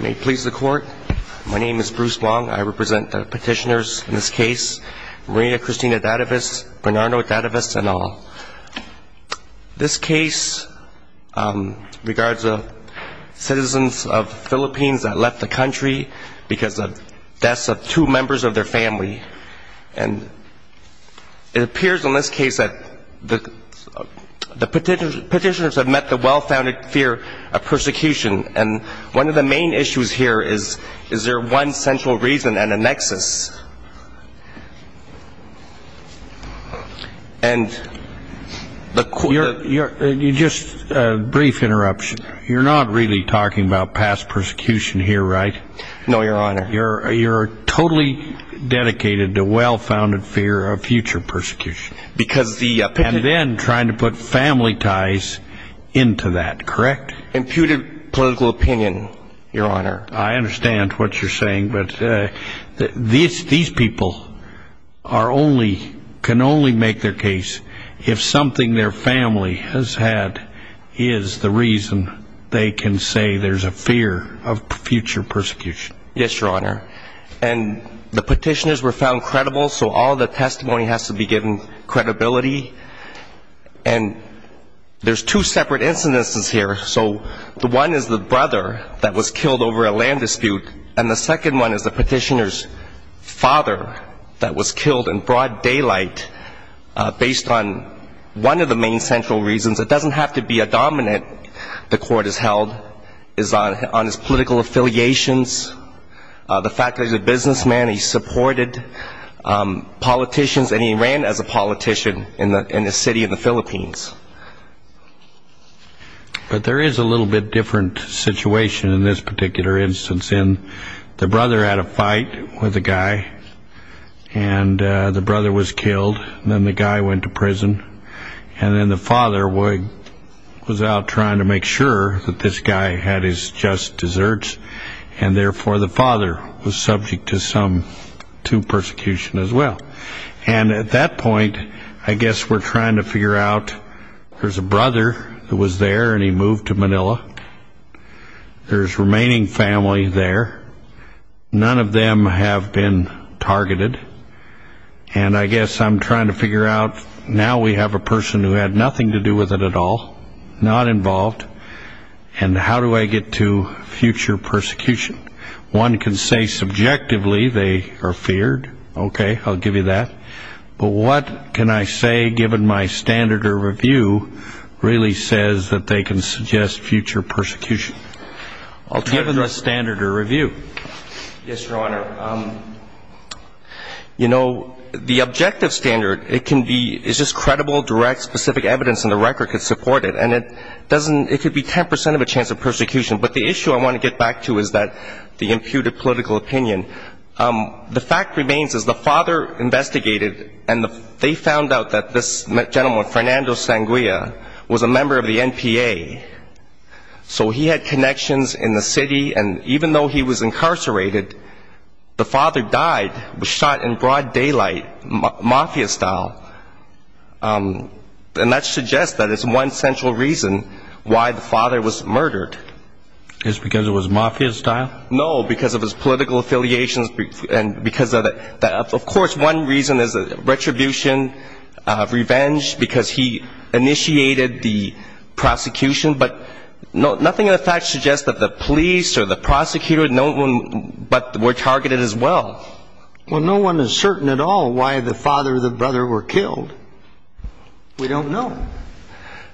May it please the court. My name is Bruce Wong. I represent the petitioners in this case. Maria Cristina Dattavis, Bernardo Dattavis and all. This case regards the citizens of the Philippines that left the country because of the deaths of two members of their family. And it appears in this case that the petitioners have met the well-founded fear of persecution. And one of the main issues here is, is there one central reason and a nexus? Just a brief interruption. You're not really talking about past persecution here, right? No, Your Honor. You're totally dedicated to well-founded fear of future persecution. And then trying to put family ties into that, correct? Imputed political opinion, Your Honor. I understand what you're saying, but these people are only, can only make their case if something their family has had is the reason they can say there's a fear of future persecution. Yes, Your Honor. And the petitioners were found credible, so all the testimony has to be given credibility. And there's two separate instances here. So the one is the brother that was killed over a land dispute. And the second one is the petitioner's father that was killed in broad daylight based on one of the main central reasons. It doesn't have to be a dominant the court has held. It's on his political affiliations, the fact that he's a businessman, he supported politicians, and he ran as a politician in the city of the Philippines. But there is a little bit different situation in this particular instance. The brother had a fight with a guy, and the brother was killed. And then the guy went to prison. And then the father was out trying to make sure that this guy had his just desserts, and therefore the father was subject to persecution as well. And at that point, I guess we're trying to figure out there's a brother who was there, and he moved to Manila. There's remaining family there. None of them have been targeted. And I guess I'm trying to figure out now we have a person who had nothing to do with it at all, not involved. And how do I get to future persecution? One can say subjectively they are feared. Okay, I'll give you that. But what can I say given my standard or review really says that they can suggest future persecution? I'll turn to the standard or review. Yes, Your Honor. You know, the objective standard, it can be, it's just credible, direct, specific evidence, and the record could support it. And it doesn't, it could be 10 percent of a chance of persecution. But the issue I want to get back to is that the imputed political opinion. The fact remains is the father investigated, and they found out that this gentleman, Fernando Sanguia, was a member of the NPA. So he had connections in the city, and even though he was incarcerated, the father died, was shot in broad daylight, mafia style. And that suggests that it's one central reason why the father was murdered. Just because it was mafia style? No, because of his political affiliations and because of the, of course one reason is retribution, revenge, because he initiated the prosecution. But nothing in the facts suggests that the police or the prosecutor, no one, but were targeted as well. Well, no one is certain at all why the father or the brother were killed. We don't know.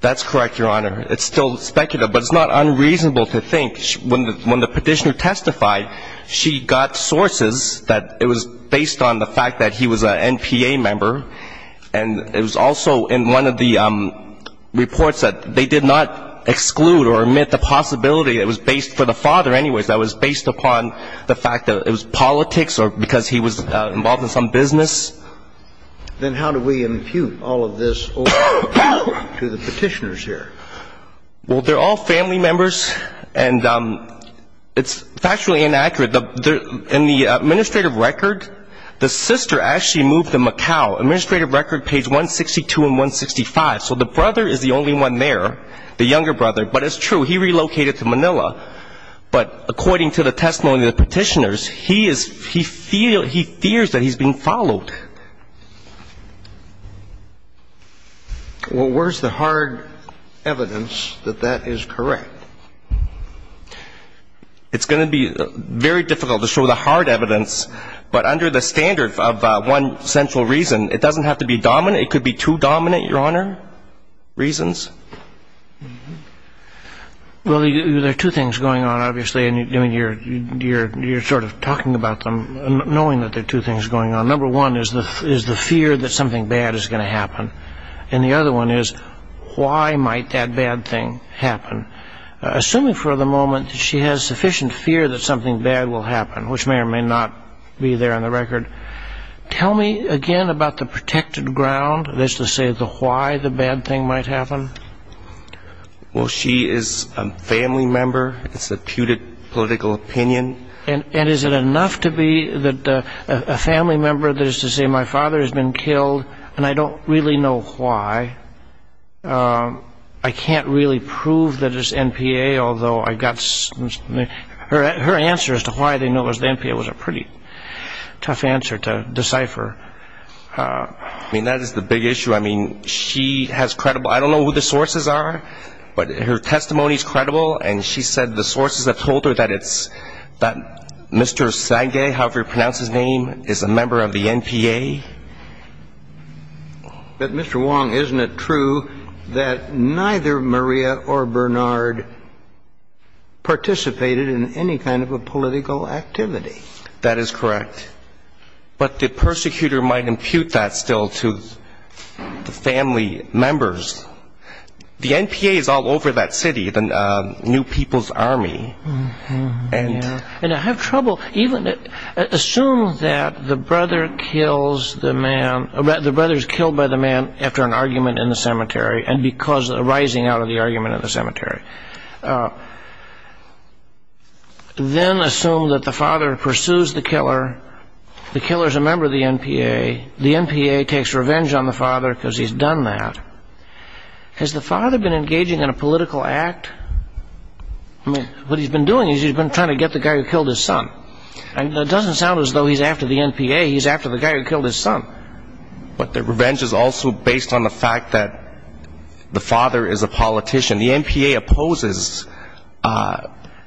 That's correct, Your Honor. It's still speculative, but it's not unreasonable to think. When the petitioner testified, she got sources that it was based on the fact that he was a NPA member. And it was also in one of the reports that they did not exclude or omit the possibility that it was based, for the father anyways, that it was based upon the fact that it was politics or because he was involved in some business. Then how do we impute all of this over to the petitioners here? Well, they're all family members, and it's factually inaccurate. In the administrative record, the sister actually moved to Macau. Administrative record page 162 and 165. So the brother is the only one there, the younger brother. But it's true, he relocated to Manila. But according to the testimony of the petitioners, he fears that he's being followed. Well, where's the hard evidence that that is correct? It's going to be very difficult to show the hard evidence. But under the standard of one central reason, it doesn't have to be dominant. It could be two dominant, Your Honor, reasons. Well, there are two things going on, obviously. I mean, you're sort of talking about them, knowing that there are two things going on. Number one is the fear that something bad is going to happen. And the other one is why might that bad thing happen? Assuming for the moment that she has sufficient fear that something bad will happen, which may or may not be there on the record, tell me again about the protected ground as to say why the bad thing might happen. Well, she is a family member. It's a putative political opinion. And is it enough to be a family member that is to say my father has been killed and I don't really know why? I can't really prove that it's NPA, although I've got some. Her answer as to why they know it was NPA was a pretty tough answer to decipher. I mean, that is the big issue. I mean, she has credible – I don't know who the sources are, but her testimony is credible. And she said the sources have told her that it's – that Mr. Sagay, however you pronounce his name, is a member of the NPA. But, Mr. Wong, isn't it true that neither Maria or Bernard participated in any kind of a political activity? That is correct. But the persecutor might impute that still to the family members. The NPA is all over that city, the New People's Army. And I have trouble even – assume that the brother kills the man – the brother is killed by the man after an argument in the cemetery and because – arising out of the argument in the cemetery. Then assume that the father pursues the killer. The killer is a member of the NPA. The NPA takes revenge on the father because he's done that. Has the father been engaging in a political act? I mean, what he's been doing is he's been trying to get the guy who killed his son. And that doesn't sound as though he's after the NPA. He's after the guy who killed his son. But the revenge is also based on the fact that the father is a politician. The NPA opposes –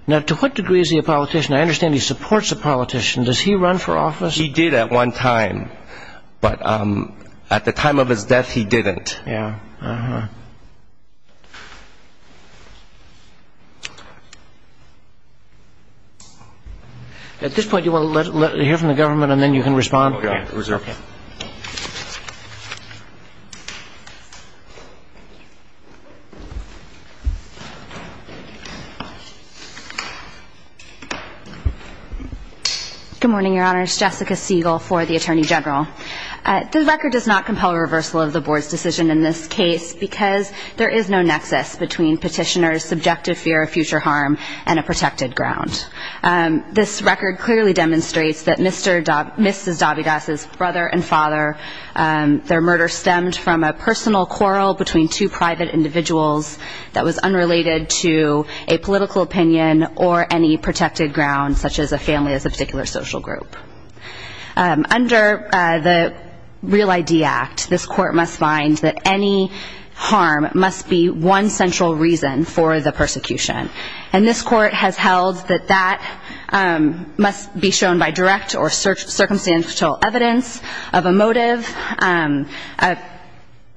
Now, to what degree is he a politician? I understand he supports a politician. Does he run for office? He did at one time. But at the time of his death, he didn't. Yeah. At this point, do you want to hear from the government and then you can respond? Okay. Good morning, Your Honor. It's Jessica Siegel for the Attorney General. This record does not compel a reversal of the Board's decision in this case because there is no nexus between Petitioner's subjective fear of future harm and a protected ground. This record clearly demonstrates that Mr. – Mrs. Dabigas' fear of future harm is a protected ground. Their murder stemmed from a personal quarrel between two private individuals that was unrelated to a political opinion or any protected ground, such as a family as a particular social group. Under the Real ID Act, this Court must find that any harm must be one central reason for the persecution. And this Court has held that that must be shown by direct or circumstantial evidence of a motive.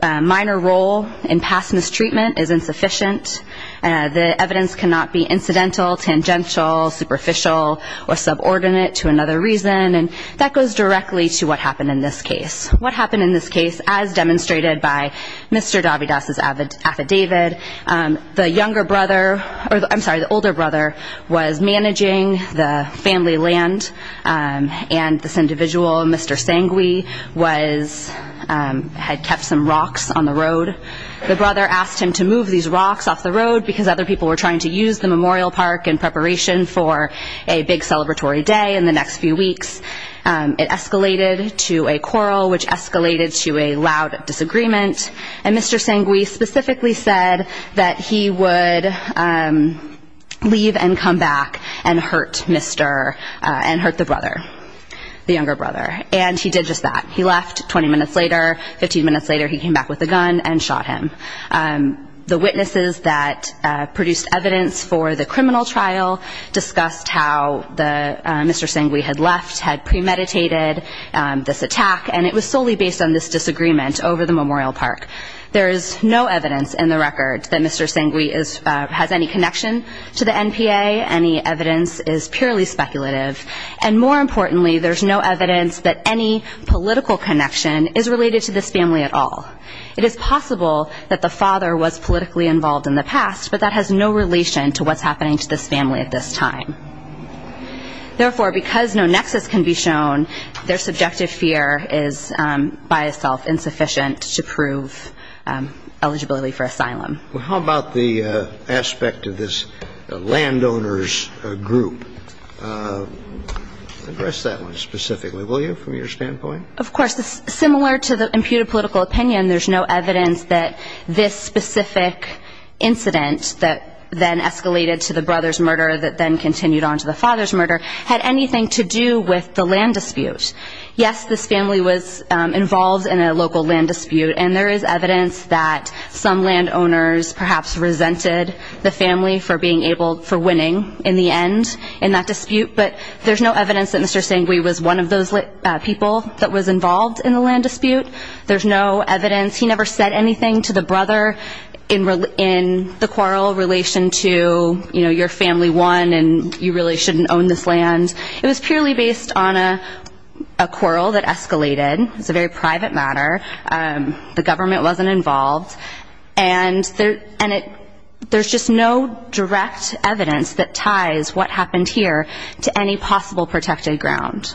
A minor role in past mistreatment is insufficient. The evidence cannot be incidental, tangential, superficial, or subordinate to another reason. And that goes directly to what happened in this case. What happened in this case, as demonstrated by Mr. Dabigas' affidavit, the younger brother – I'm sorry, the older brother was managing the family land, and this individual, Mr. Sangui, was – had kept some rocks on the road. The brother asked him to move these rocks off the road because other people were trying to use the memorial park in preparation for a big celebratory day in the next few weeks. It escalated to a quarrel, which escalated to a loud disagreement. And Mr. Sangui specifically said that he would leave and come back and hurt Mr. – and hurt the brother, the younger brother. And he did just that. He left 20 minutes later. Fifteen minutes later, he came back with a gun and shot him. The witnesses that produced evidence for the criminal trial discussed how Mr. Sangui had left, had premeditated this attack, and it was solely based on this disagreement over the memorial park. There is no evidence in the record that Mr. Sangui has any connection to the NPA. Any evidence is purely speculative. And more importantly, there's no evidence that any political connection is related to this family at all. It is possible that the father was politically involved in the past, but that has no relation to what's happening to this family at this time. Therefore, because no nexus can be shown, their subjective fear is by itself insufficient to prove eligibility for asylum. Well, how about the aspect of this landowner's group? Address that one specifically, will you, from your standpoint? Of course. Similar to the imputed political opinion, there's no evidence that this specific incident that then escalated to the brother's murder that then continued on to the father's murder had anything to do with the land dispute. Yes, this family was involved in a local land dispute, and there is evidence that some landowners perhaps resented the family for being able, for winning in the end in that dispute, but there's no evidence that Mr. Sangui was one of those people that was involved in the land dispute. There's no evidence. He never said anything to the brother in the quarrel in relation to, you know, your family won and you really shouldn't own this land. It was purely based on a quarrel that escalated. It was a very private matter. The government wasn't involved. And there's just no direct evidence that ties what happened here to any possible protected ground.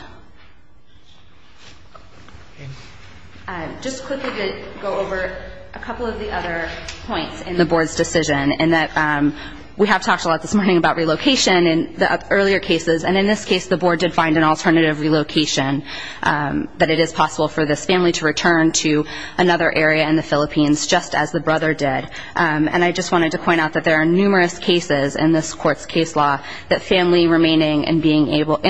Just quickly to go over a couple of the other points in the board's decision in that we have talked a lot this morning about relocation in the earlier cases, and in this case the board did find an alternative relocation, but it is possible for this family to return to another area in the Philippines, just as the brother did. And I just wanted to point out that there are numerous cases in this court's case law that family remaining in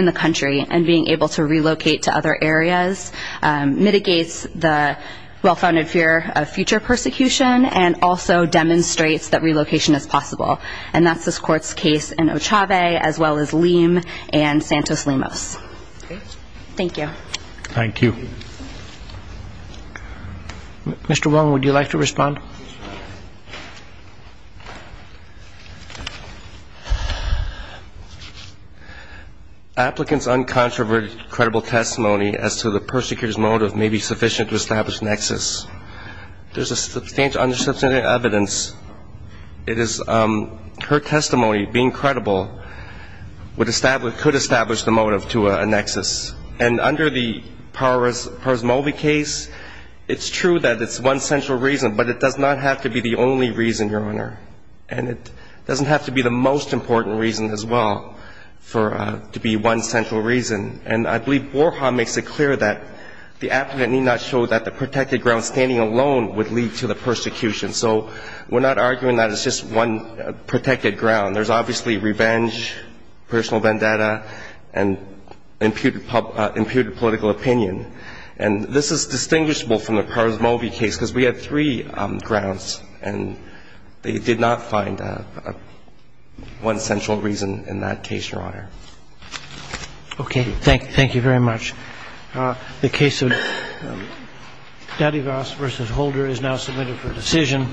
the country and being able to relocate to other areas mitigates the well-founded fear of future persecution and also demonstrates that relocation is possible. And that's this court's case in Ochave as well as Lim and Santos-Limos. Thank you. Thank you. Mr. Wong, would you like to respond? Applicant's uncontroverted credible testimony as to the persecutor's motive may be sufficient to establish nexus. There's a substantial amount of evidence. It is her testimony being credible could establish the motive to a nexus. And under the Parasmovi case, it's true that it's one central reason, but it does not have to be the only reason, Your Honor. And it doesn't have to be the most important reason as well to be one central reason. And I believe Borja makes it clear that the applicant need not show that the protected ground standing alone would lead to the persecution. So we're not arguing that it's just one protected ground. There's obviously revenge, personal vendetta, and imputed political opinion. And this is distinguishable from the Parasmovi case because we had three grounds and they did not find one central reason in that case, Your Honor. Okay. Thank you very much. The case of Dadivas v. Holder is now submitted for decision.